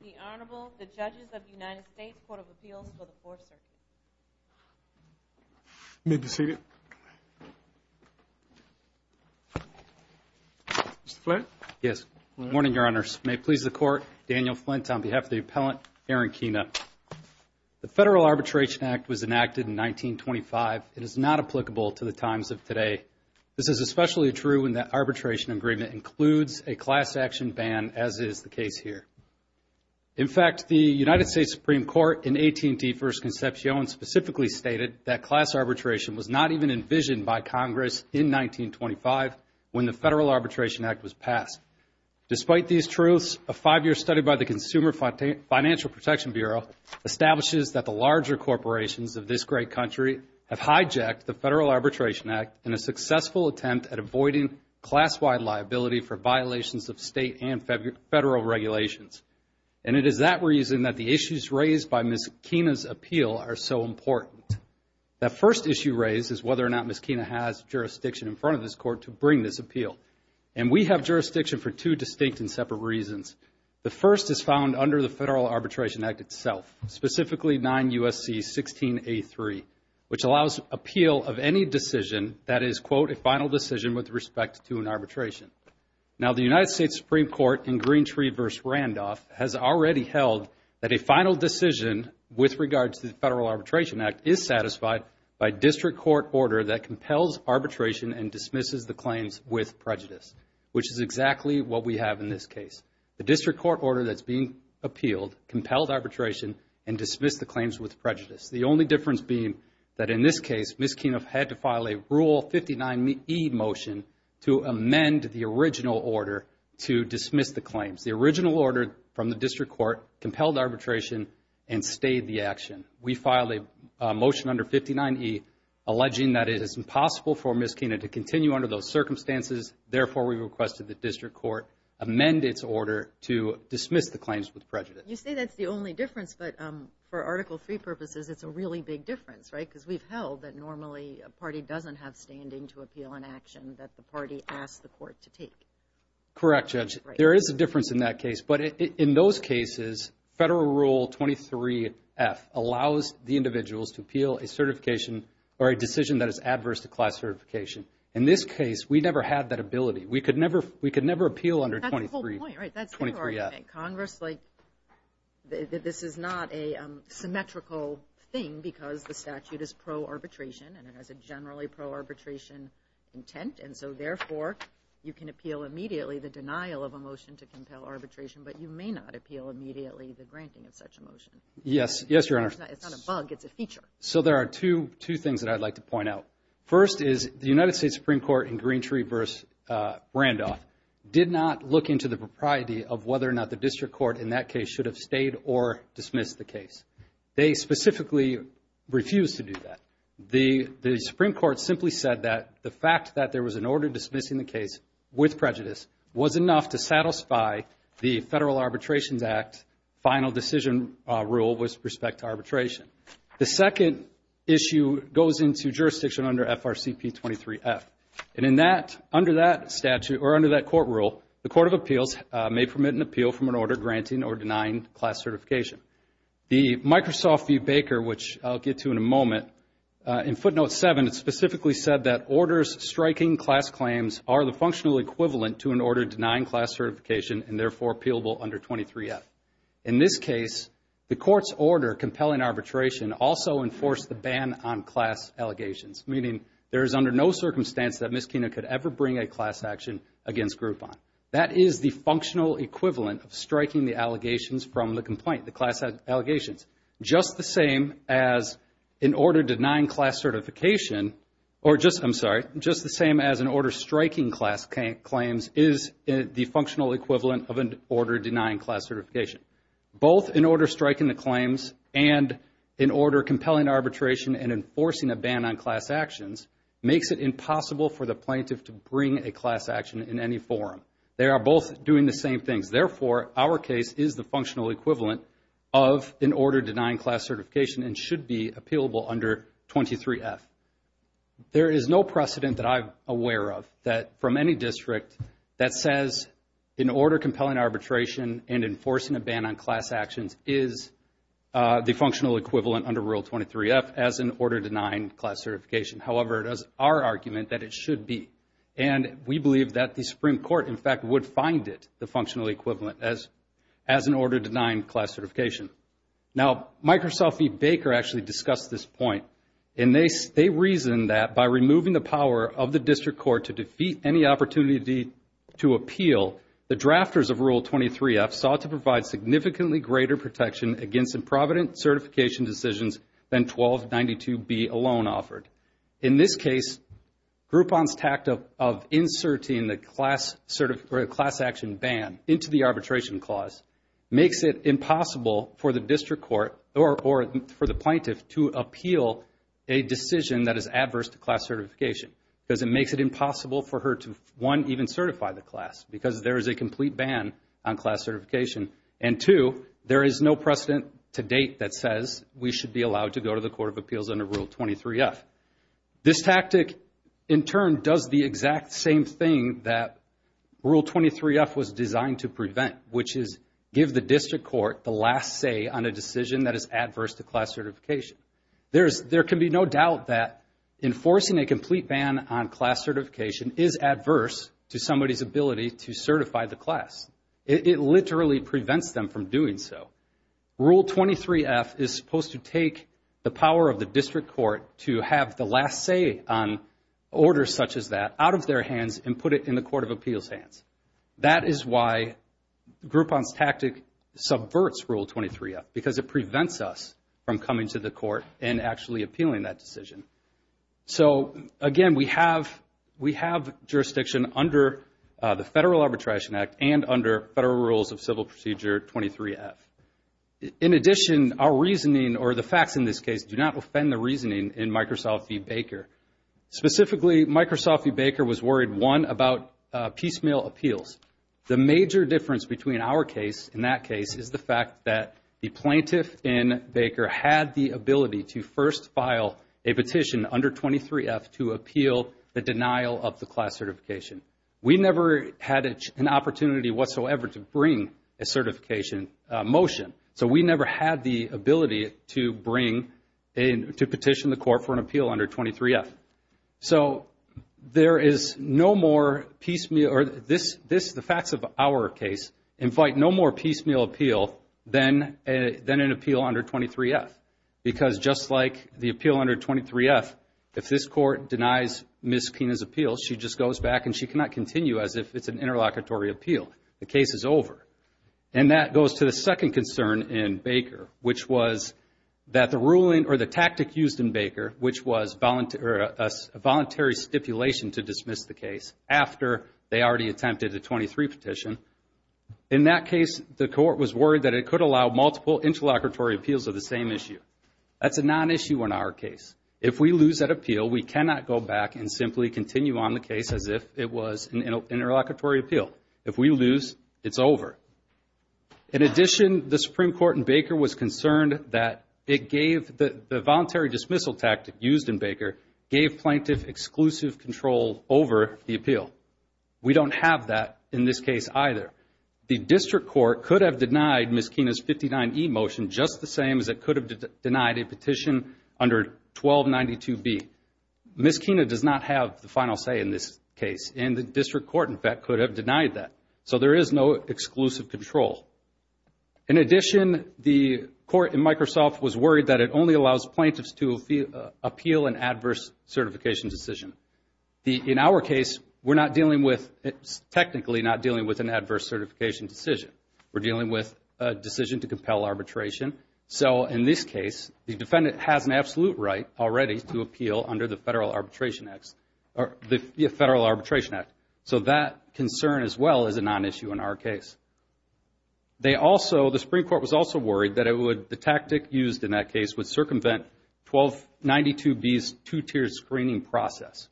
The Honorable, the Judges of the United States Court of Appeals for the Fourth Circuit. You may be seated. Mr. Flint? Yes. Good morning, Your Honors. May it please the Court, Daniel Flint on behalf of the Appellant, Aaron Keena. The Federal Arbitration Act was enacted in 1925. It is not applicable to the times of today. This is especially true when the arbitration agreement includes a class action ban, as is the case here. In fact, the United States Supreme Court in AT&T v. Concepcion specifically stated that class arbitration was not even envisioned by Congress in 1925 when the Federal Arbitration Act was passed. Despite these truths, a five-year study by the Consumer Financial Protection Bureau establishes that the larger corporations of this great country have hijacked the Federal Arbitration Act in a successful attempt at avoiding class-wide liability for violations of state and federal regulations. And it is that reason that the issues raised by Ms. Keena's appeal are so important. The first issue raised is whether or not Ms. Keena has jurisdiction in front of this Court to bring this appeal. And we have jurisdiction for two distinct and separate reasons. The first is found under the Federal Arbitration Act itself, specifically 9 U.S.C. 16A3, which allows appeal of any decision that is, quote, a final decision with respect to an arbitration. Now, the United States Supreme Court in Greentree v. Randolph has already held that a final decision with regard to the Federal Arbitration Act is satisfied by district court order that compels arbitration and dismisses the claims with prejudice, which is exactly what we have in this case. The district court order that's being appealed compelled arbitration and dismissed the claims with prejudice. The only difference being that, in this case, Ms. Keena had to file a Rule 59E motion to amend the original order to dismiss the claims. The original order from the district court compelled arbitration and stayed the action. We filed a motion under 59E alleging that it is impossible for Ms. Keena to continue under those circumstances. Therefore, we requested the district court amend its order to dismiss the claims with prejudice. You say that's the only difference, but for Article III purposes, it's a really big difference, right? Because we've held that normally a party doesn't have standing to appeal an action that the party asks the court to take. Correct, Judge. There is a difference in that case. But in those cases, Federal Rule 23F allows the individuals to appeal a certification or a decision that is adverse to class certification. In this case, we never had that ability. We could never appeal under 23F. That's the whole point, right? That's their argument. Congress, like, this is not a symmetrical thing because the statute is pro-arbitration and it has a generally pro-arbitration intent. And so, therefore, you can appeal immediately the denial of a motion to compel arbitration, but you may not appeal immediately the granting of such a motion. Yes, Your Honor. It's not a bug. It's a feature. So there are two things that I'd like to point out. First is the United States Supreme Court in Greentree v. Randolph did not look into the propriety of whether or not the district court in that case should have stayed or dismissed the case. They specifically refused to do that. The Supreme Court simply said that the fact that there was an order dismissing the case with prejudice was enough to satisfy the Federal Arbitrations Act final decision rule with respect to arbitration. The second issue goes into jurisdiction under FRCP 23F. And in that, under that statute or under that court rule, the Court of Appeals may permit an appeal from an order granting or denying class certification. The Microsoft v. Baker, which I'll get to in a moment, in footnote 7, it specifically said that orders striking class claims are the functional equivalent to an order denying class certification and, therefore, appealable under 23F. In this case, the Court's order compelling arbitration also enforced the ban on class allegations, meaning there is under no circumstance that Ms. Kena could ever bring a class action against Groupon. That is the functional equivalent of striking the allegations from the complaint, the class allegations. Just the same as an order denying class certification or just, I'm sorry, just the same as an order striking class claims is the functional equivalent of an order denying class certification. Both an order striking the claims and an order compelling arbitration and enforcing a ban on class actions makes it impossible for the plaintiff to bring a class action in any forum. They are both doing the same things. Therefore, our case is the functional equivalent of an order denying class certification and should be appealable under 23F. There is no precedent that I'm aware of that from any district that says an order compelling arbitration and enforcing a ban on class actions is the functional equivalent under Rule 23F as an order denying class certification. However, it is our argument that it should be, and we believe that the Supreme Court, in fact, would find it the functional equivalent as an order denying class certification. Now, Microsoft v. Baker actually discussed this point, and they reasoned that by removing the power of the district court to defeat any opportunity to appeal, the drafters of Rule 23F sought to provide significantly greater protection against improvident certification decisions than 1292B alone offered. In this case, Groupon's tactic of inserting the class action ban into the arbitration clause makes it impossible for the district court or for the plaintiff to appeal a decision that is adverse to class certification because it makes it impossible for her to, one, even certify the class because there is a complete ban on class certification, and two, there is no precedent to date that says we should be allowed to go to the Court of Appeals under Rule 23F. This tactic, in turn, does the exact same thing that Rule 23F was designed to prevent, which is give the district court the last say on a decision that is adverse to class certification. There can be no doubt that enforcing a complete ban on class certification is adverse to somebody's ability to certify the class. It literally prevents them from doing so. Rule 23F is supposed to take the power of the district court to have the last say on orders such as that out of their hands and put it in the Court of Appeals' hands. That is why Groupon's tactic subverts Rule 23F because it prevents us from coming to the court and actually appealing that decision. So, again, we have jurisdiction under the Federal Arbitration Act and under Federal Rules of Civil Procedure 23F. In addition, our reasoning, or the facts in this case, do not offend the reasoning in Microsoft v. Baker. Specifically, Microsoft v. Baker was worried, one, about piecemeal appeals. The major difference between our case and that case is the fact that the plaintiff in Baker had the ability to first file a petition under 23F to appeal the denial of the class certification. We never had an opportunity whatsoever to bring a certification motion, so we never had the ability to petition the court for an appeal under 23F. So, there is no more piecemeal, or the facts of our case invite no more piecemeal appeal than an appeal under 23F. Because just like the appeal under 23F, if this court denies Ms. Pina's appeal, she just goes back and she cannot continue as if it's an interlocutory appeal. The case is over. And that goes to the second concern in Baker, which was that the ruling or the tactic used in Baker, which was a voluntary stipulation to dismiss the case after they already attempted a 23 petition. In that case, the court was worried that it could allow multiple interlocutory appeals of the same issue. That's a non-issue in our case. If we lose that appeal, we cannot go back and simply continue on the case as if it was an interlocutory appeal. If we lose, it's over. In addition, the Supreme Court in Baker was concerned that the voluntary dismissal tactic used in Baker gave plaintiff exclusive control over the appeal. We don't have that in this case either. The district court could have denied Ms. Pina's 59E motion just the same as it could have denied a petition under 1292B. Ms. Pina does not have the final say in this case, and the district court, in fact, could have denied that. So there is no exclusive control. In addition, the court in Microsoft was worried that it only allows plaintiffs to appeal an adverse certification decision. In our case, we're not dealing with, technically not dealing with an adverse certification decision. We're dealing with a decision to compel arbitration. So in this case, the defendant has an absolute right already to appeal under the Federal Arbitration Act. So that concern as well is a non-issue in our case. The Supreme Court was also worried that the tactic used in that case would circumvent 1292B's two-tier screening process.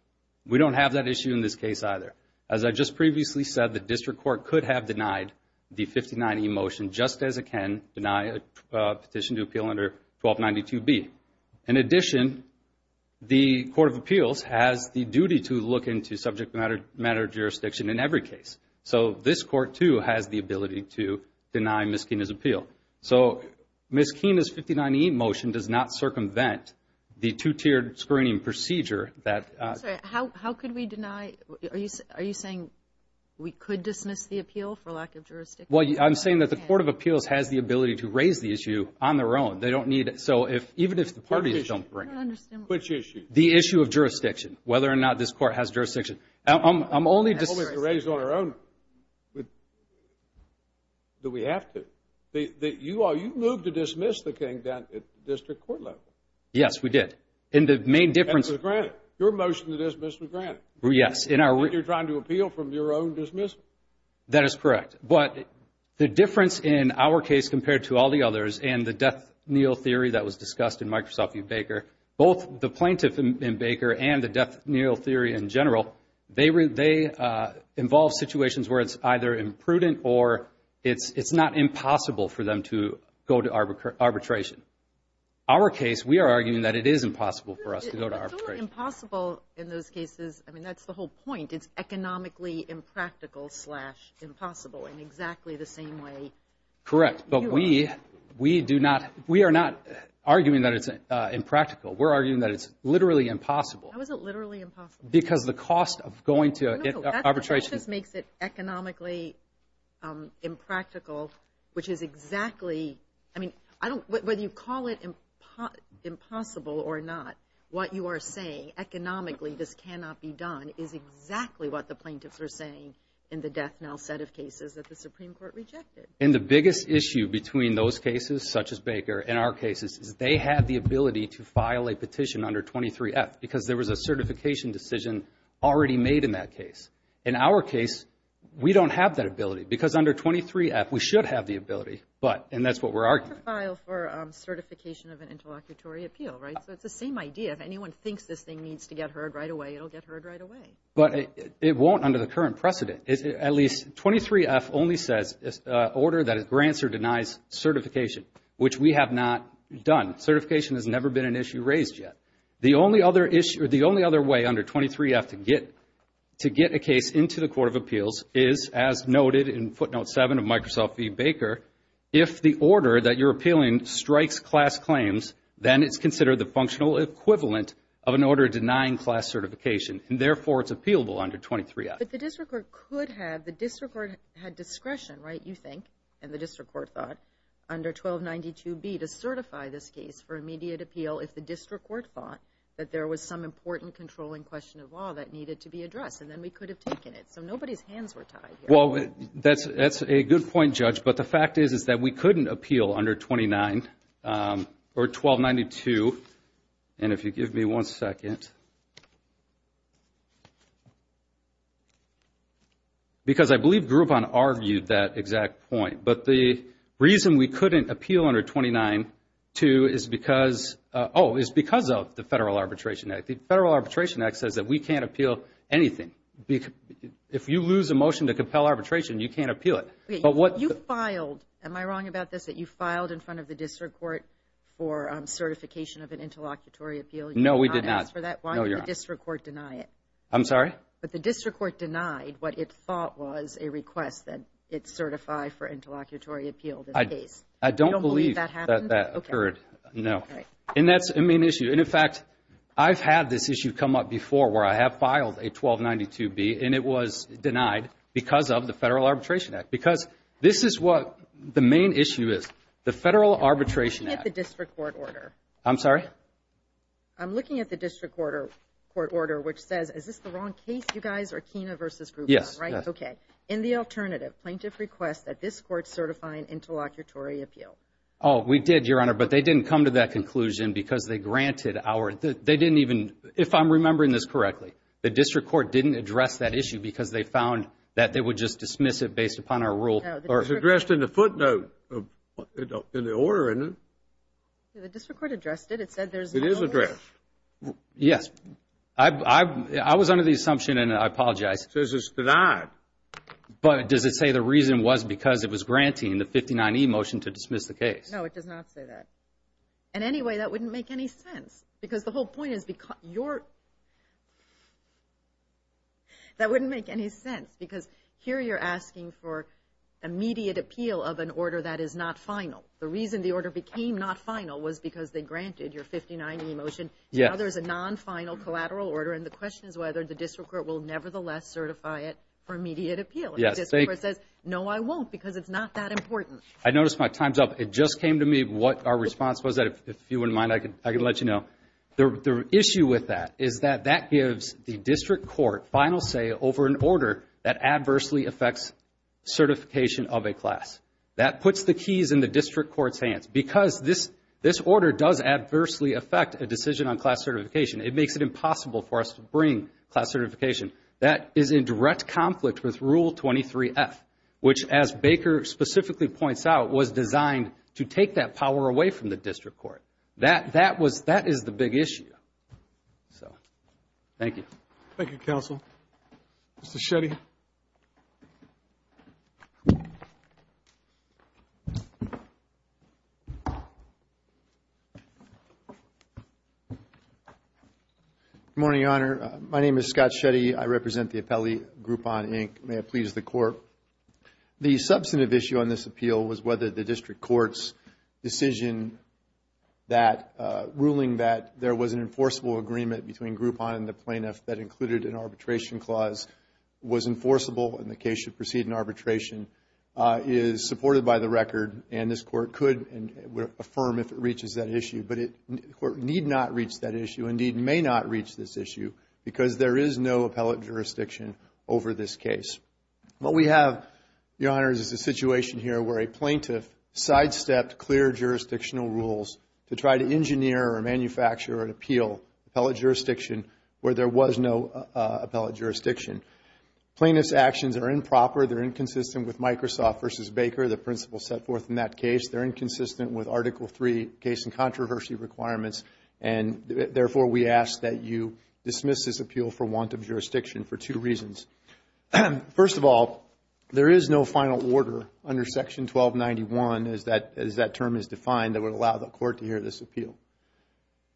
We don't have that issue in this case either. As I just previously said, the district court could have denied the 59E motion just as it can deny a petition to appeal under 1292B. In addition, the Court of Appeals has the duty to look into subject matter jurisdiction in every case. So this court, too, has the ability to deny Ms. Pina's appeal. So Ms. Pina's 59E motion does not circumvent the two-tier screening procedure. Sorry, how could we deny? Are you saying we could dismiss the appeal for lack of jurisdiction? Well, I'm saying that the Court of Appeals has the ability to raise the issue on their own. They don't need it. So even if the parties don't bring it. Which issue? The issue of jurisdiction, whether or not this court has jurisdiction. I'm only just— Only if it's raised on our own. Do we have to? You moved to dismiss the King down at the district court level. Yes, we did. And the main difference— That was granted. Your motion to dismiss was granted. Yes. And you're trying to appeal from your own dismissal. That is correct. But the difference in our case compared to all the others and the death kneel theory that was discussed in Microsoft v. Baker, both the plaintiff in Baker and the death kneel theory in general, they involve situations where it's either imprudent or it's not impossible for them to go to arbitration. Our case, we are arguing that it is impossible for us to go to arbitration. It's only impossible in those cases. I mean, that's the whole point. It's economically impractical slash impossible in exactly the same way. Correct. But we do not—we are not arguing that it's impractical. We're arguing that it's literally impossible. How is it literally impossible? Because the cost of going to arbitration— No, no, that just makes it economically impractical, which is exactly—I mean, I don't— That's exactly what the plaintiffs are saying in the death knell set of cases that the Supreme Court rejected. And the biggest issue between those cases, such as Baker, and our cases, is they have the ability to file a petition under 23F because there was a certification decision already made in that case. In our case, we don't have that ability because under 23F, we should have the ability, but—and that's what we're arguing. You have to file for certification of an interlocutory appeal, right? So it's the same idea. If anyone thinks this thing needs to get heard right away, it'll get heard right away. But it won't under the current precedent. At least 23F only says order that grants or denies certification, which we have not done. Certification has never been an issue raised yet. The only other issue—the only other way under 23F to get a case into the Court of Appeals is, as noted in footnote 7 of Microsoft v. Baker, if the order that you're appealing strikes class claims, then it's considered the functional equivalent of an order denying class certification. And therefore, it's appealable under 23F. But the district court could have—the district court had discretion, right, you think, and the district court thought, under 1292B to certify this case for immediate appeal if the district court thought that there was some important controlling question of law that needed to be addressed. And then we could have taken it. So nobody's hands were tied here. Well, that's a good point, Judge. But the fact is, is that we couldn't appeal under 29—or 1292. And if you give me one second. Because I believe Groupon argued that exact point. But the reason we couldn't appeal under 29 to is because—oh, is because of the Federal Arbitration Act. The Federal Arbitration Act says that we can't appeal anything. If you lose a motion to compel arbitration, you can't appeal it. You filed—am I wrong about this, that you filed in front of the district court for certification of an interlocutory appeal? No, we did not. You did not ask for that? No, you're not. Why did the district court deny it? I'm sorry? But the district court denied what it thought was a request that it certify for interlocutory appeal the case. I don't believe that that occurred. Okay. No. And that's a main issue. And, in fact, I've had this issue come up before where I have filed a 1292B, and it was denied because of the Federal Arbitration Act. Because this is what the main issue is. The Federal Arbitration Act— I'm looking at the district court order. I'm sorry? I'm looking at the district court order, which says—is this the wrong case, you guys, or Kena versus Groupon, right? Yes. Okay. In the alternative, plaintiff requests that this court certify an interlocutory appeal. Oh, we did, Your Honor, but they didn't come to that conclusion because they granted our—they didn't even—if I'm remembering this correctly, the district court didn't address that issue because they found that they would just dismiss it based upon our rule. No, the district court— It's addressed in the footnote in the order, isn't it? The district court addressed it. It said there's no— It is addressed. Yes. I was under the assumption, and I apologize. It says it's denied. But does it say the reason was because it was granting the 59E motion to dismiss the case? No, it does not say that. And anyway, that wouldn't make any sense because the whole point is your—that wouldn't make any sense because here you're asking for immediate appeal of an order that is not final. The reason the order became not final was because they granted your 59E motion. Now there's a non-final collateral order, and the question is whether the district court will nevertheless certify it for immediate appeal. And the district court says, no, I won't because it's not that important. I noticed my time's up. It just came to me what our response was. If you wouldn't mind, I can let you know. The issue with that is that that gives the district court final say over an order that adversely affects certification of a class. That puts the keys in the district court's hands. Because this order does adversely affect a decision on class certification, it makes it impossible for us to bring class certification. That is in direct conflict with Rule 23F, which, as Baker specifically points out, was designed to take that power away from the district court. That was—that is the big issue. So, thank you. Thank you, counsel. Mr. Shetty. Good morning, Your Honor. My name is Scott Shetty. I represent the appellee, Groupon, Inc. May it please the Court. The substantive issue on this appeal was whether the district court's decision that—ruling that there was an enforceable agreement between Groupon and the plaintiff that included an arbitration clause was enforceable and the case should proceed in arbitration is supported by the record. And this Court could and would affirm if it reaches that issue. But it need not reach that issue, indeed may not reach this issue, because there is no appellate jurisdiction over this case. What we have, Your Honor, is a situation here where a plaintiff sidestepped clear jurisdictional rules to try to engineer or manufacture or appeal appellate jurisdiction where there was no appellate jurisdiction. Plaintiff's actions are improper. They're inconsistent with Microsoft v. Baker, the principles set forth in that case. They're inconsistent with Article III case and controversy requirements. And, therefore, we ask that you dismiss this appeal for want of jurisdiction for two reasons. First of all, there is no final order under Section 1291, as that term is defined, that would allow the Court to hear this appeal.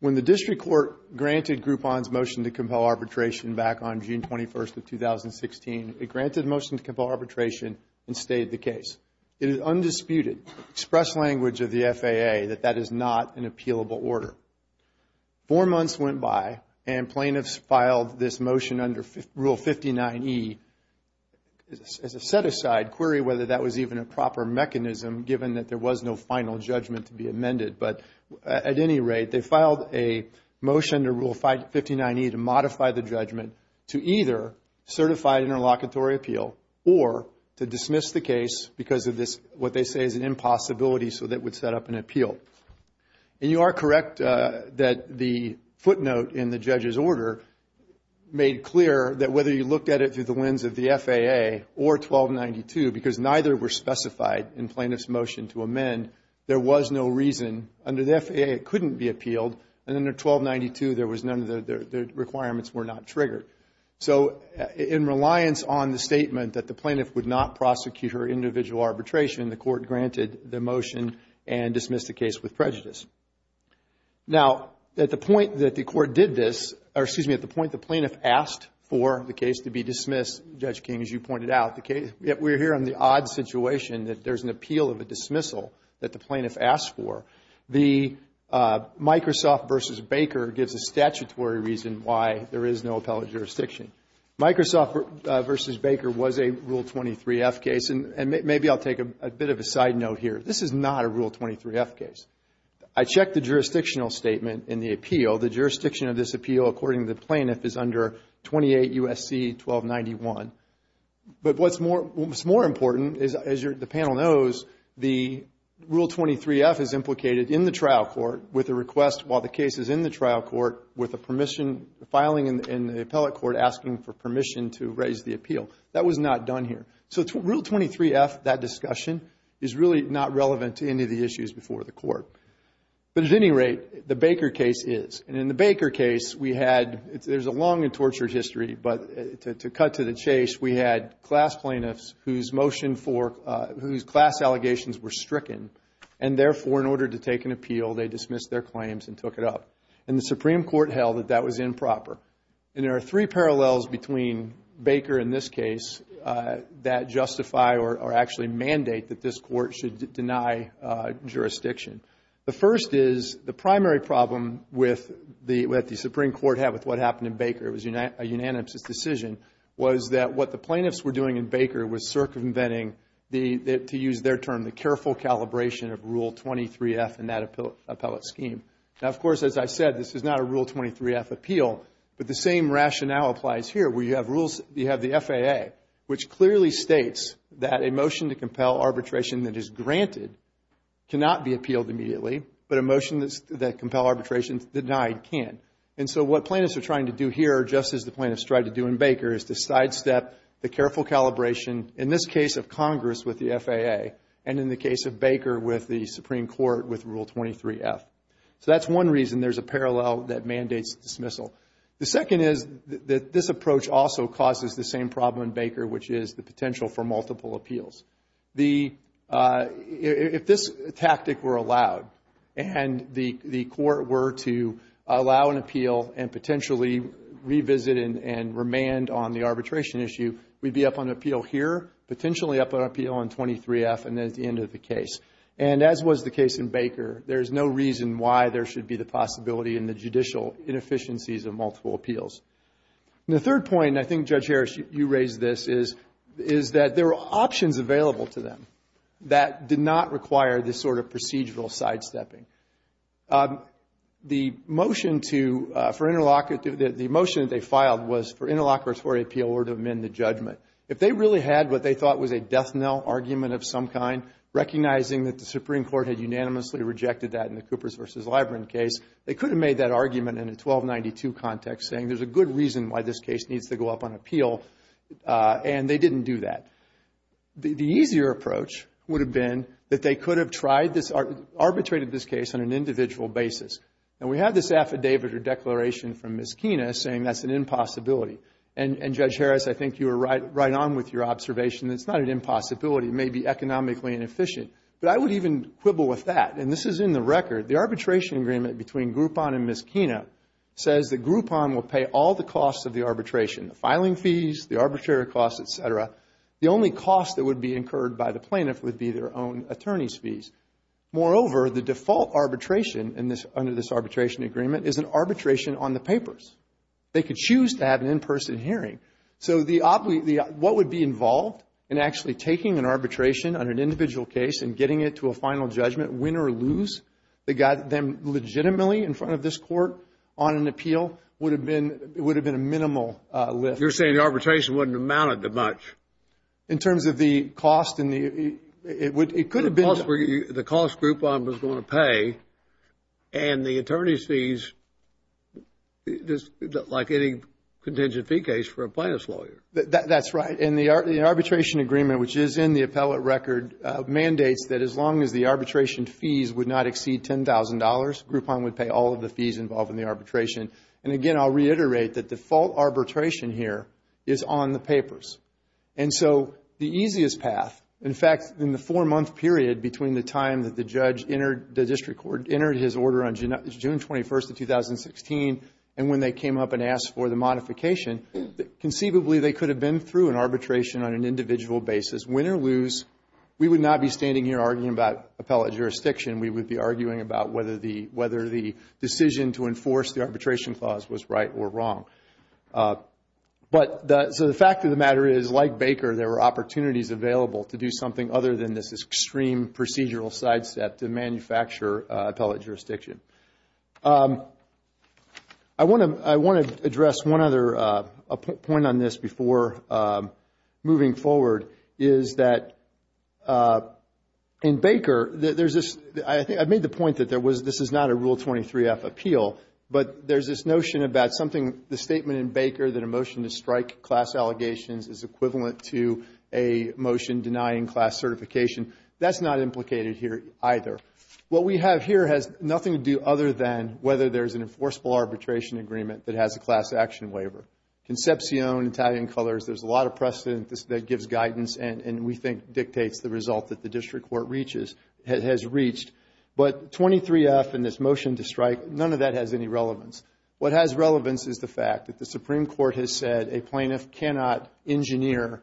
When the district court granted Groupon's motion to compel arbitration back on June 21st of 2016, it granted the motion to compel arbitration and stayed the case. It is undisputed express language of the FAA that that is not an appealable order. Four months went by, and plaintiffs filed this motion under Rule 59E as a set-aside query whether that was even a proper mechanism, given that there was no final judgment to be amended. But, at any rate, they filed a motion to Rule 59E to modify the judgment to either certify interlocutory appeal or to dismiss the case because of what they say is an impossibility so that it would set up an appeal. And you are correct that the footnote in the judge's order made clear that whether you looked at it through the lens of the FAA or 1292, because neither were specified in plaintiff's motion to amend, there was no reason. Under the FAA, it couldn't be appealed. And under 1292, none of the requirements were not triggered. So, in reliance on the statement that the plaintiff would not prosecute her individual arbitration, the court granted the motion and dismissed the case with prejudice. Now, at the point that the court did this, or excuse me, at the point the plaintiff asked for the case to be dismissed, Judge King, as you pointed out, the case, we're here on the odd situation that there's an appeal of a dismissal that the plaintiff asked for. The Microsoft v. Baker gives a statutory reason why there is no appellate jurisdiction. Microsoft v. Baker was a Rule 23-F case, and maybe I'll take a bit of a side note here. This is not a Rule 23-F case. I checked the jurisdictional statement in the appeal. The jurisdiction of this appeal, according to the plaintiff, is under 28 U.S.C. 1291. But what's more important is, as the panel knows, the Rule 23-F is implicated in the trial court with a request while the case is in the trial court with a permission, filing in the appellate court asking for permission to raise the appeal. That was not done here. So, Rule 23-F, that discussion, is really not relevant to any of the issues before the court. But at any rate, the Baker case is. And in the Baker case, we had, there's a long and tortured history, but to cut to the chase, we had class plaintiffs whose motion for, whose class allegations were stricken. And therefore, in order to take an appeal, they dismissed their claims and took it up. And the Supreme Court held that that was improper. And there are three parallels between Baker and this case that justify or actually mandate that this court should deny jurisdiction. The first is, the primary problem with the Supreme Court had with what happened in Baker, it was a unanimous decision, was that what the plaintiffs were doing in Baker was circumventing, to use their term, the careful calibration of Rule 23-F in that appellate scheme. Now, of course, as I said, this is not a Rule 23-F appeal. But the same rationale applies here, where you have the FAA, which clearly states that a motion to compel arbitration that is granted cannot be appealed immediately, but a motion that compels arbitration denied can. And so what plaintiffs are trying to do here, just as the plaintiffs tried to do in Baker, is to sidestep the careful calibration, in this case of Congress with the FAA, and in the case of Baker with the Supreme Court with Rule 23-F. So that's one reason there's a parallel that mandates dismissal. The second is that this approach also causes the same problem in Baker, which is the potential for multiple appeals. If this tactic were allowed, and the court were to allow an appeal and potentially revisit and remand on the arbitration issue, we'd be up on appeal here, potentially up on appeal on 23-F, and that's the end of the case. And as was the case in Baker, there's no reason why there should be the possibility in the judicial inefficiencies of multiple appeals. And the third point, and I think, Judge Harris, you raised this, is that there are options available to them that did not require this sort of procedural sidestepping. The motion that they filed was for interlocutory appeal or to amend the judgment. If they really had what they thought was a death-knell argument of some kind, recognizing that the Supreme Court had unanimously rejected that in the Coopers v. Libran case, they could have made that argument in a 1292 context, saying there's a good reason why this case needs to go up on appeal, and they didn't do that. The easier approach would have been that they could have tried this, arbitrated this case on an individual basis. And we have this affidavit or declaration from Ms. Kena saying that's an impossibility. And, Judge Harris, I think you were right on with your observation that it's not an impossibility. It may be economically inefficient. But I would even quibble with that, and this is in the record. The arbitration agreement between Groupon and Ms. Kena says that Groupon will pay all the costs of the arbitration, the filing fees, the arbitrary costs, et cetera. The only cost that would be incurred by the plaintiff would be their own attorney's fees. Moreover, the default arbitration under this arbitration agreement is an arbitration on the papers. They could choose to have an in-person hearing. So what would be involved in actually taking an arbitration on an individual case and getting it to a final judgment, win or lose? They got them legitimately in front of this court on an appeal. It would have been a minimal lift. You're saying the arbitration wouldn't have amounted to much. In terms of the cost, it could have been. The cost Groupon was going to pay, and the attorney's fees, like any contingent fee case for a plaintiff's lawyer. That's right. And the arbitration agreement, which is in the appellate record, mandates that as long as the arbitration fees would not exceed $10,000, Groupon would pay all of the fees involved in the arbitration. And again, I'll reiterate that default arbitration here is on the papers. And so the easiest path, in fact, in the four-month period between the time that the district court entered his order on June 21st of 2016 and when they came up and asked for the modification, conceivably they could have been through an arbitration on an individual basis. Win or lose, we would not be standing here arguing about appellate jurisdiction. We would be arguing about whether the decision to enforce the arbitration clause was right or wrong. So the fact of the matter is, like Baker, there were opportunities available to do something other than this extreme procedural sidestep to manufacture appellate jurisdiction. I want to address one other point on this before moving forward, is that in Baker, I made the point that this is not a Rule 23-F appeal, but there's this notion about the statement in Baker that a motion to strike class allegations is equivalent to a motion denying class certification. That's not implicated here either. What we have here has nothing to do other than whether there's an enforceable arbitration agreement that has a class action waiver. Concepcion, Italian colors, there's a lot of precedent that gives guidance and we think dictates the result that the district court has reached. But 23-F and this motion to strike, none of that has any relevance. What has relevance is the fact that the Supreme Court has said a plaintiff cannot engineer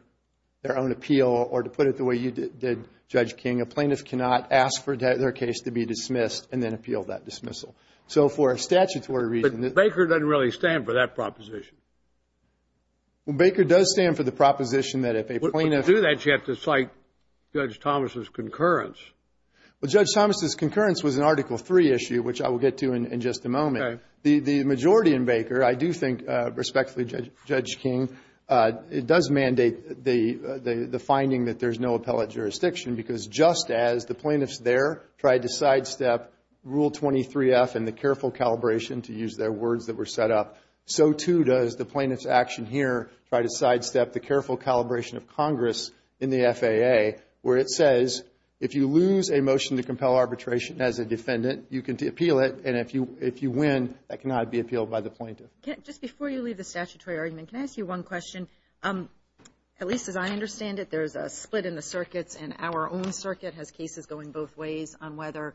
their own appeal, or to put it the way you did, Judge King, a plaintiff cannot ask for their case to be dismissed and then appeal that dismissal. So for a statutory reason the ---- But Baker doesn't really stand for that proposition. Well, Baker does stand for the proposition that if a plaintiff ---- But to do that, you have to cite Judge Thomas' concurrence. Well, Judge Thomas' concurrence was an Article III issue, which I will get to in just a moment. Okay. The majority in Baker, I do think, respectfully, Judge King, it does mandate the finding that there's no appellate jurisdiction, because just as the plaintiffs there tried to sidestep Rule 23-F and the careful calibration, to use their words that were set up, so too does the plaintiff's action here try to sidestep the careful calibration of Congress in the FAA, where it says if you lose a motion to compel arbitration as a defendant, you can appeal it, and if you win, that cannot be appealed by the plaintiff. Just before you leave the statutory argument, can I ask you one question? At least as I understand it, there's a split in the circuits, and our own circuit has cases going both ways on whether,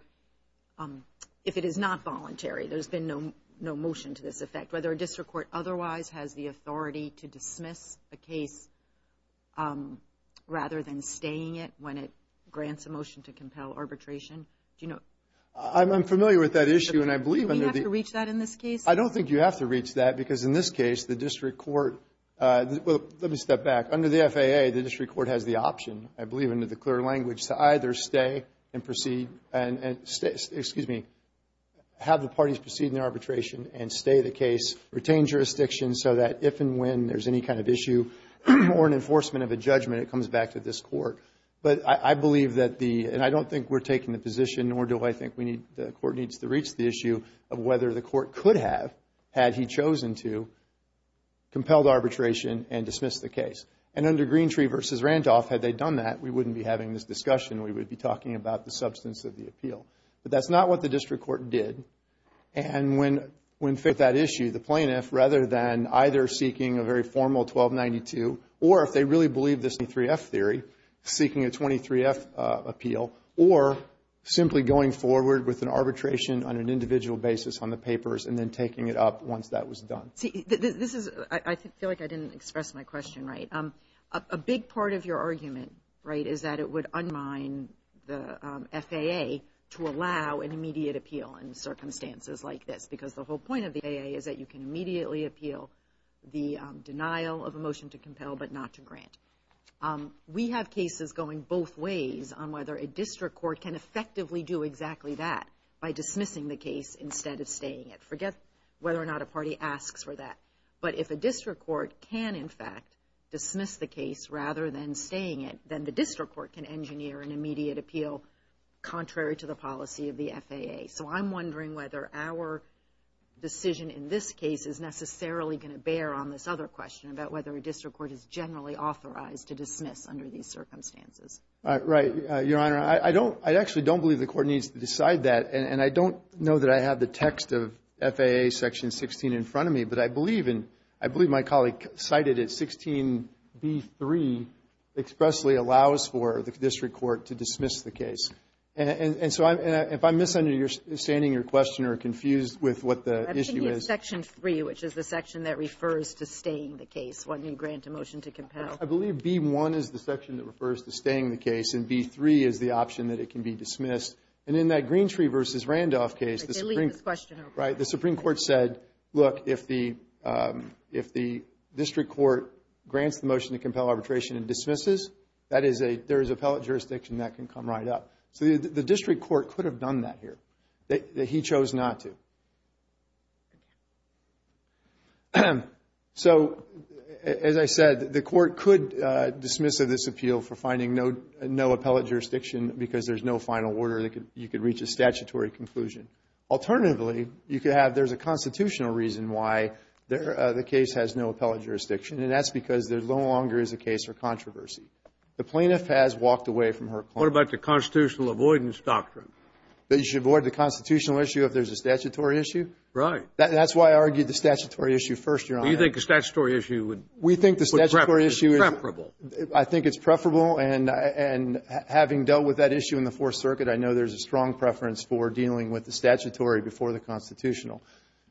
if it is not voluntary, there's been no motion to this effect, whether a district court otherwise has the authority to dismiss a case rather than staying it when it grants a motion to compel arbitration. Do you know? I'm familiar with that issue, and I believe under the ---- Do we have to reach that in this case? I don't think you have to reach that, because in this case, the district court ---- well, let me step back. Under the FAA, the district court has the option, I believe in the clear language, to either stay and proceed and ---- excuse me, have the parties proceed in their arbitration and stay the case, retain jurisdiction so that if and when there's any kind of issue or an enforcement of a judgment, it comes back to this court. But I believe that the ---- and I don't think we're taking the position, nor do I have, had he chosen to compel the arbitration and dismiss the case. And under Greentree v. Randolph, had they done that, we wouldn't be having this discussion. We would be talking about the substance of the appeal. But that's not what the district court did. And when ---- that issue, the plaintiff, rather than either seeking a very formal 1292, or if they really believe this 23F theory, seeking a 23F appeal, or simply going forward with an arbitration on an individual basis on the papers and then taking it up once that was done. See, this is ---- I feel like I didn't express my question right. A big part of your argument, right, is that it would undermine the FAA to allow an immediate appeal in circumstances like this because the whole point of the FAA is that you can immediately appeal the denial of a motion to compel but not to grant. We have cases going both ways on whether a district court can effectively do exactly that by dismissing the case instead of staying it. Forget whether or not a party asks for that. But if a district court can, in fact, dismiss the case rather than staying it, then the district court can engineer an immediate appeal contrary to the policy of the FAA. So I'm wondering whether our decision in this case is necessarily going to bear on this other question about whether a district court is generally authorized to dismiss under these circumstances. Right. Your Honor, I don't ---- I actually don't believe the court needs to decide that. And I don't know that I have the text of FAA Section 16 in front of me, but I believe in ---- I believe my colleague cited it. 16b3 expressly allows for the district court to dismiss the case. And so if I'm misunderstanding your question or confused with what the issue is ---- Section 3, which is the section that refers to staying the case when you grant a motion to compel. I believe b1 is the section that refers to staying the case, and b3 is the option that it can be dismissed. And in that Greentree v. Randolph case, the Supreme ---- They leave this question open. Right. The Supreme Court said, look, if the district court grants the motion to compel arbitration and dismisses, that is a ---- there is appellate jurisdiction that can come right up. So the district court could have done that here, that he chose not to. So, as I said, the court could dismiss this appeal for finding no appellate jurisdiction because there is no final order that you could reach a statutory conclusion. Alternatively, you could have ---- there is a constitutional reason why the case has no appellate jurisdiction, and that's because there no longer is a case for controversy. The plaintiff has walked away from her claim. What about the constitutional avoidance doctrine? You should avoid the constitutional issue if there is a statutory issue. Right. That's why I argued the statutory issue first, Your Honor. You think the statutory issue would ---- We think the statutory issue is ---- Is preferable. I think it's preferable. And having dealt with that issue in the Fourth Circuit, I know there is a strong preference for dealing with the statutory before the constitutional.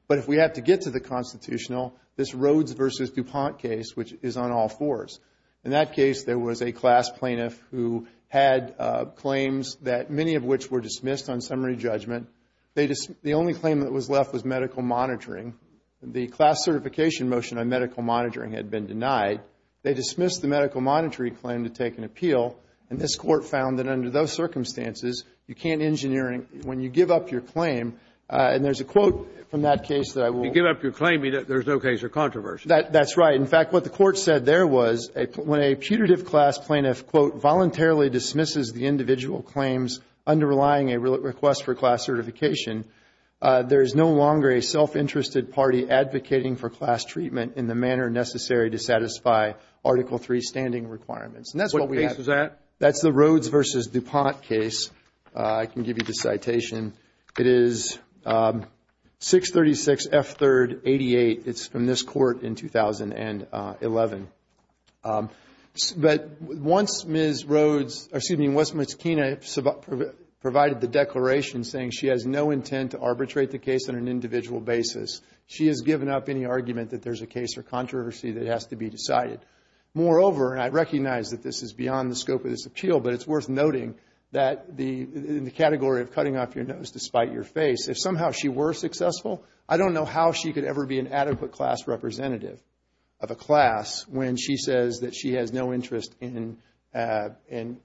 But if we have to get to the constitutional, this Rhodes v. DuPont case, which is on all fours. In that case, there was a class plaintiff who had claims that many of which were dismissed on summary judgment. The only claim that was left was medical monitoring. The class certification motion on medical monitoring had been denied. They dismissed the medical monitoring claim to take an appeal, and this Court found that under those circumstances, you can't engineer a ---- when you give up your claim, and there is a quote from that case that I will ---- You give up your claim, there is no case of controversy. That's right. In fact, what the Court said there was when a putative class plaintiff, quote, voluntarily dismisses the individual claims underlying a request for class certification, there is no longer a self-interested party advocating for class treatment in the manner necessary to satisfy Article III standing requirements. And that's what we have. What case is that? That's the Rhodes v. DuPont case. I can give you the citation. It is 636 F. 3rd 88. It's from this Court in 2011. But once Ms. Rhodes, or excuse me, once Ms. Kena provided the declaration saying she has no intent to arbitrate the case on an individual basis, she has given up any argument that there's a case or controversy that has to be decided. Moreover, and I recognize that this is beyond the scope of this appeal, but it's worth noting that in the category of cutting off your nose to spite your face, if somehow she were successful, I don't know how she could ever be an adequate class representative of a class when she says that she has no interest in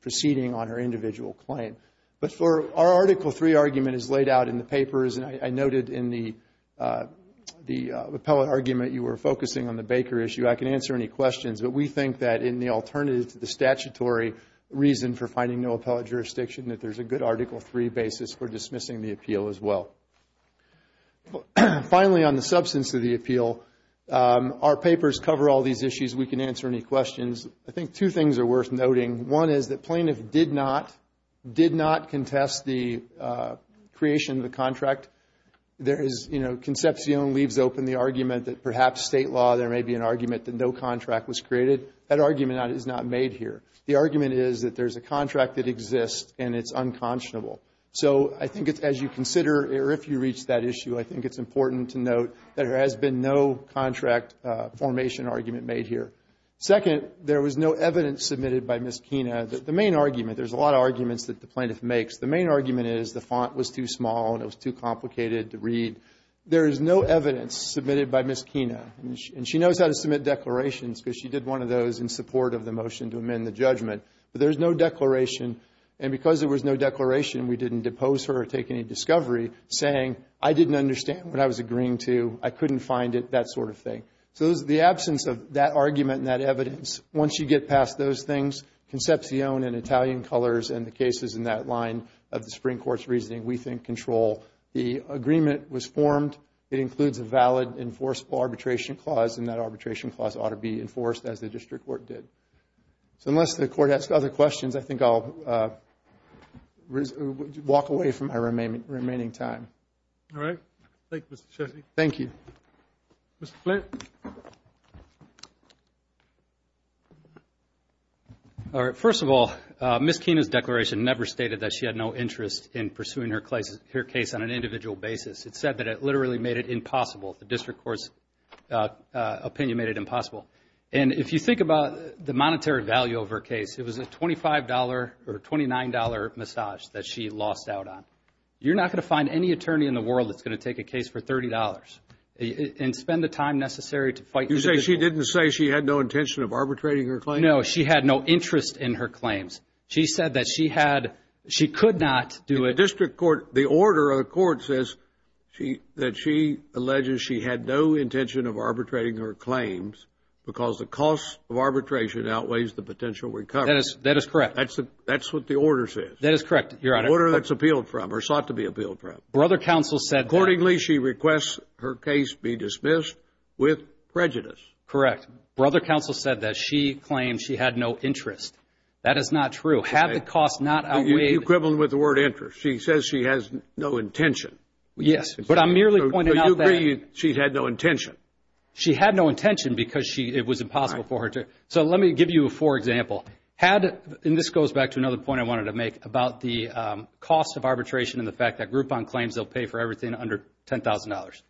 proceeding on her individual claim. But our Article III argument is laid out in the papers, and I noted in the appellate argument you were focusing on the Baker issue. I can answer any questions, but we think that in the alternative to the statutory reason for finding no appellate jurisdiction, that there's a good Article III basis for dismissing the appeal as well. Finally, on the substance of the appeal, our papers cover all these issues. We can answer any questions. I think two things are worth noting. One is that plaintiff did not contest the creation of the contract. There is, you know, Concepcion leaves open the argument that perhaps state law there may be an argument that is not made here. The argument is that there's a contract that exists and it's unconscionable. So I think as you consider, or if you reach that issue, I think it's important to note that there has been no contract formation argument made here. Second, there was no evidence submitted by Ms. Kina. The main argument, there's a lot of arguments that the plaintiff makes. The main argument is the font was too small and it was too complicated to read. There is no evidence submitted by Ms. Kina, and she knows how to submit declarations because she did one of those in support of the motion to amend the judgment. But there's no declaration, and because there was no declaration, we didn't depose her or take any discovery saying, I didn't understand what I was agreeing to. I couldn't find it, that sort of thing. So the absence of that argument and that evidence, once you get past those things, Concepcion in Italian colors and the cases in that line of the Supreme Court's reasoning, we think control. The agreement was formed. It includes a valid enforceable arbitration clause, and that arbitration clause ought to be enforced as the district court did. So unless the court has other questions, I think I'll walk away from my remaining time. All right. Thank you, Mr. Chessie. Thank you. Mr. Flint. All right. First of all, Ms. Kina's declaration never stated that she had no interest in pursuing her case on an individual basis. It said that it literally made it impossible. The district court's opinion made it impossible. And if you think about the monetary value of her case, it was a $25 or a $29 massage that she lost out on. You're not going to find any attorney in the world that's going to take a case for $30 and spend the time necessary to fight. You say she didn't say she had no intention of arbitrating her claim? No, she had no interest in her claims. She said that she had, she could not do it. The district court, the order of the court says that she alleges she had no intention of arbitrating her claims because the cost of arbitration outweighs the potential recovery. That is correct. That's what the order says. That is correct, Your Honor. Order that's appealed from or sought to be appealed from. Brother counsel said that. Accordingly, she requests her case be dismissed with prejudice. Correct. Brother counsel said that she claimed she had no interest. That is not true. Had the cost not outweighed. Equivalent with the word interest. She says she has no intention. Yes, but I'm merely pointing out that. So you agree she had no intention? She had no intention because it was impossible for her to. So let me give you a poor example. Had, and this goes back to another point I wanted to make about the cost of arbitration and the fact that Groupon claims they'll pay for everything under $10,000.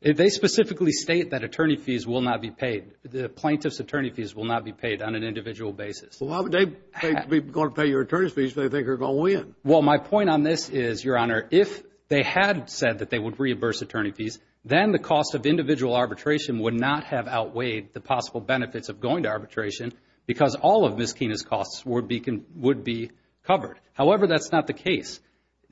If they specifically state that attorney fees will not be paid, the plaintiff's attorney fees will not be paid on an individual basis. Well, they're going to pay your attorney fees if they think they're going to win. Well, my point on this is, Your Honor, if they had said that they would reimburse attorney fees, then the cost of individual arbitration would not have outweighed the possible benefits of going to arbitration because all of Ms. Kena's costs would be covered. However, that's not the case.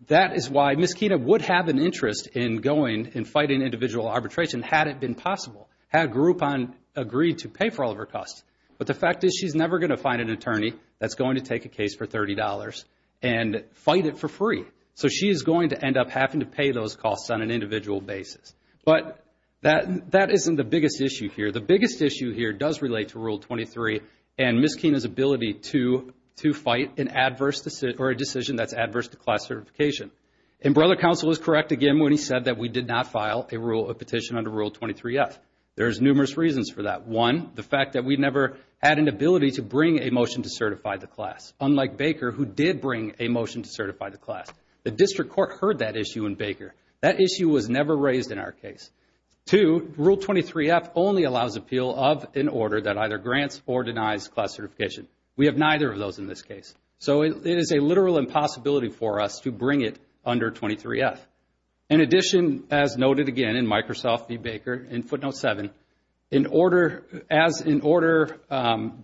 That is why Ms. Kena would have an interest in going and fighting individual arbitration had it been possible. Had Groupon agreed to pay for all of her costs. But the fact is she's never going to find an attorney that's going to take a case for $30 and fight it for free. So she is going to end up having to pay those costs on an individual basis. But that isn't the biggest issue here. The biggest issue here does relate to Rule 23 and Ms. Kena's ability to fight an adverse decision or a decision that's adverse to class certification. And Brother Counsel is correct again when he said that we did not file a petition under Rule 23F. There's numerous reasons for that. One, the fact that we never had an ability to bring a motion to certify the class, unlike Baker who did bring a motion to certify the class. The District Court heard that issue in Baker. That issue was never raised in our case. Two, Rule 23F only allows appeal of an order that either grants or denies class certification. We have neither of those in this case. So it is a literal impossibility for us to bring it under 23F. In addition, as noted again in Microsoft v. Baker in footnote 7, an order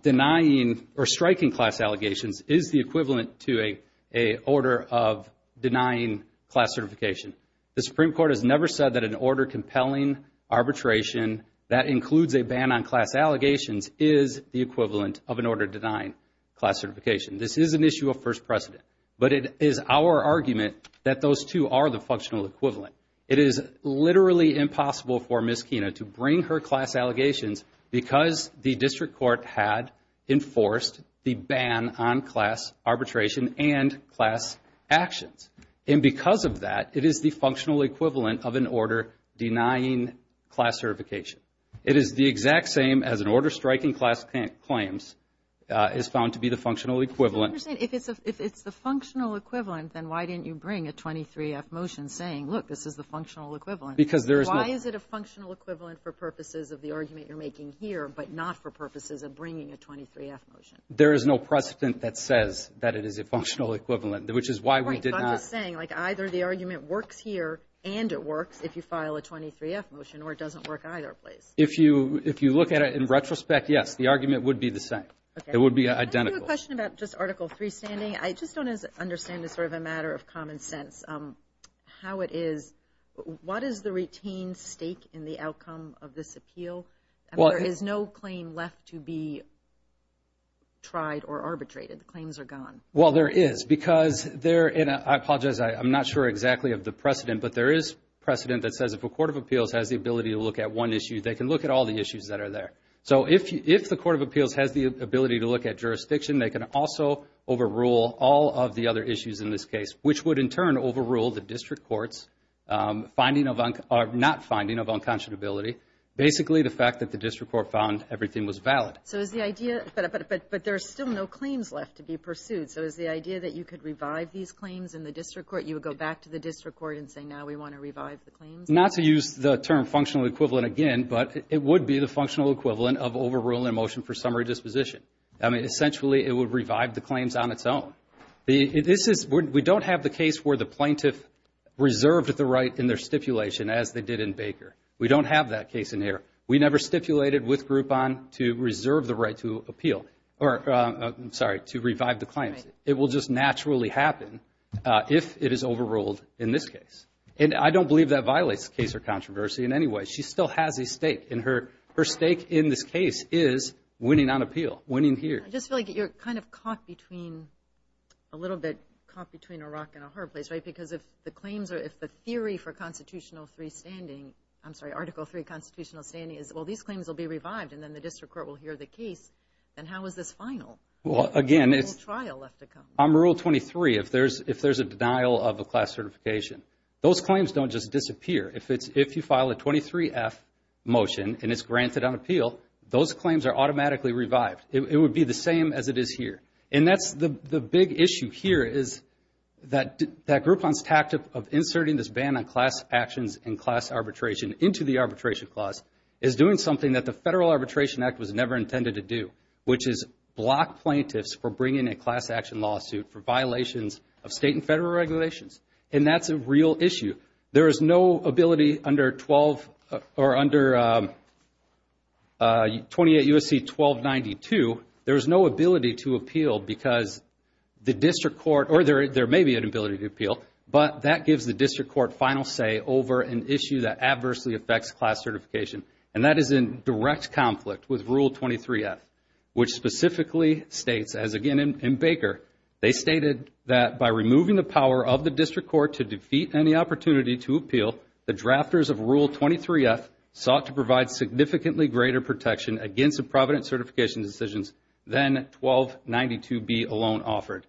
denying or striking class allegations is the equivalent to an order of denying class certification. The Supreme Court has never said that an order compelling arbitration that includes a ban on class allegations is the equivalent of an order denying class certification. This is an issue of first precedent. But it is our argument that those two are the functional equivalent. It is literally impossible for Ms. Kena to bring her class allegations because the District Court had enforced the ban on class arbitration and class actions. And because of that, it is the functional equivalent of an order denying class certification. It is the exact same as an order striking class claims is found to be the functional equivalent. I understand. If it's the functional equivalent, then why didn't you bring a 23F motion saying, look, this is the functional equivalent? Because there is no. Why is it a functional equivalent for purposes of the argument you're making here but not for purposes of bringing a 23F motion? There is no precedent that says that it is a functional equivalent, which is why we did not. Right. I'm just saying, like, either the argument works here and it works if you file a 23F motion or it doesn't work either place. If you look at it in retrospect, yes, the argument would be the same. It would be identical. I have a question about just Article III standing. I just don't understand as sort of a matter of common sense how it is. What is the retained stake in the outcome of this appeal? I mean, there is no claim left to be tried or arbitrated. The claims are gone. Well, there is. I apologize, I'm not sure exactly of the precedent, but there is precedent that says if a court of appeals has the ability to look at one issue, they can look at all the issues that are there. So if the court of appeals has the ability to look at jurisdiction, they can also overrule all of the other issues in this case, which would in turn overrule the district court's finding of unconscionability, basically the fact that the district court found everything was valid. But there are still no claims left to be pursued. So is the idea that you could revive these claims in the district court, you would go back to the district court and say, now we want to revive the claims? Not to use the term functional equivalent again, but it would be the functional equivalent of overruling a motion for summary disposition. I mean, essentially it would revive the claims on its own. We don't have the case where the plaintiff reserved the right in their stipulation as they did in Baker. We don't have that case in here. We never stipulated with Groupon to reserve the right to appeal, or I'm sorry, to revive the claims. It will just naturally happen if it is overruled in this case. And I don't believe that violates the case or controversy in any way. She still has a stake. And her stake in this case is winning on appeal, winning here. I just feel like you're kind of caught between, a little bit caught between a rock and a hard place, right? Because if the claims are, if the theory for Constitutional 3 standing, I'm sorry, Article 3 Constitutional standing is, well these claims will be revived and then the district court will hear the case, then how is this final? Well, again, it's. A trial left to come. On Rule 23, if there's a denial of a class certification, those claims don't just disappear. If you file a 23-F motion and it's granted on appeal, those claims are automatically revived. It would be the same as it is here. And that's the big issue here is that Groupon's tactic of inserting this ban on class actions and class arbitration into the arbitration clause is doing something that the Federal Arbitration Act was never intended to do, which is block plaintiffs for bringing a class action lawsuit for violations of state and federal regulations. And that's a real issue. There is no ability under 12 or under 28 U.S.C. 1292, there is no ability to appeal because the district court, or there may be an ability to appeal, but that gives the district court final say over an issue that adversely affects class certification. And that is in direct conflict with Rule 23-F, which specifically states, as again in Baker, they stated that by removing the power of the district court to defeat any opportunity to appeal, the drafters of Rule 23-F sought to provide significantly greater protection against the provident certification decisions than 1292B alone offered.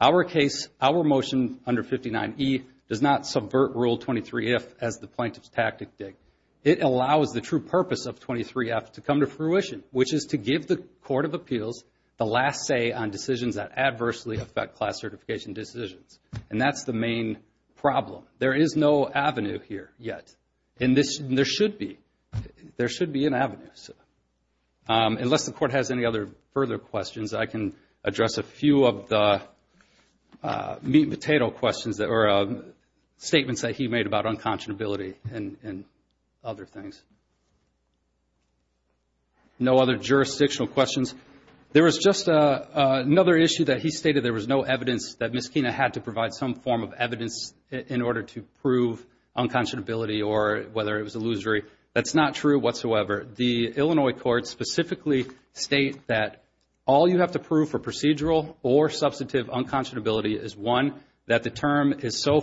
Our case, our motion under 59E, does not subvert Rule 23-F as the plaintiff's tactic did. It allows the true purpose of 23-F to come to fruition, which is to give the Court of Appeals the last say on decisions that adversely affect class certification decisions. And that's the main problem. There is no avenue here yet. And there should be. There should be an avenue. Unless the Court has any other further questions, I can address a few of the meat and potato questions that were statements that he made about unconscionability and other things. No other jurisdictional questions. There was just another issue that he stated there was no evidence that would provide some form of evidence in order to prove unconscionability or whether it was illusory. That's not true whatsoever. The Illinois courts specifically state that all you have to prove for procedural or substantive unconscionability is, one, that the term is so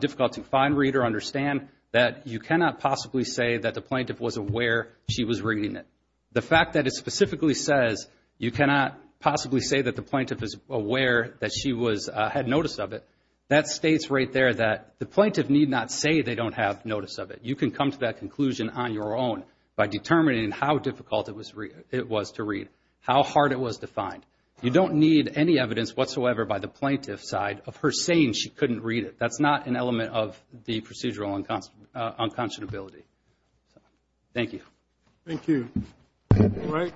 difficult to find, read, or understand, that you cannot possibly say that the plaintiff was aware she was reading it. The fact that it specifically says you cannot possibly say that the plaintiff is aware that she had notice of it, that states right there that the plaintiff need not say they don't have notice of it. You can come to that conclusion on your own by determining how difficult it was to read, how hard it was to find. You don't need any evidence whatsoever by the plaintiff's side of her saying she couldn't read it. That's not an element of the procedural unconscionability. Thank you. Thank you. All right.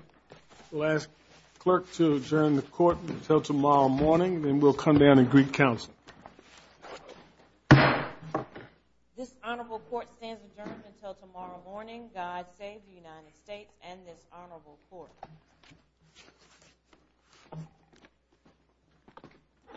We'll ask the clerk to adjourn the court until tomorrow morning, then we'll come down and greet counsel. This honorable court stands adjourned until tomorrow morning. God save the United States and this honorable court.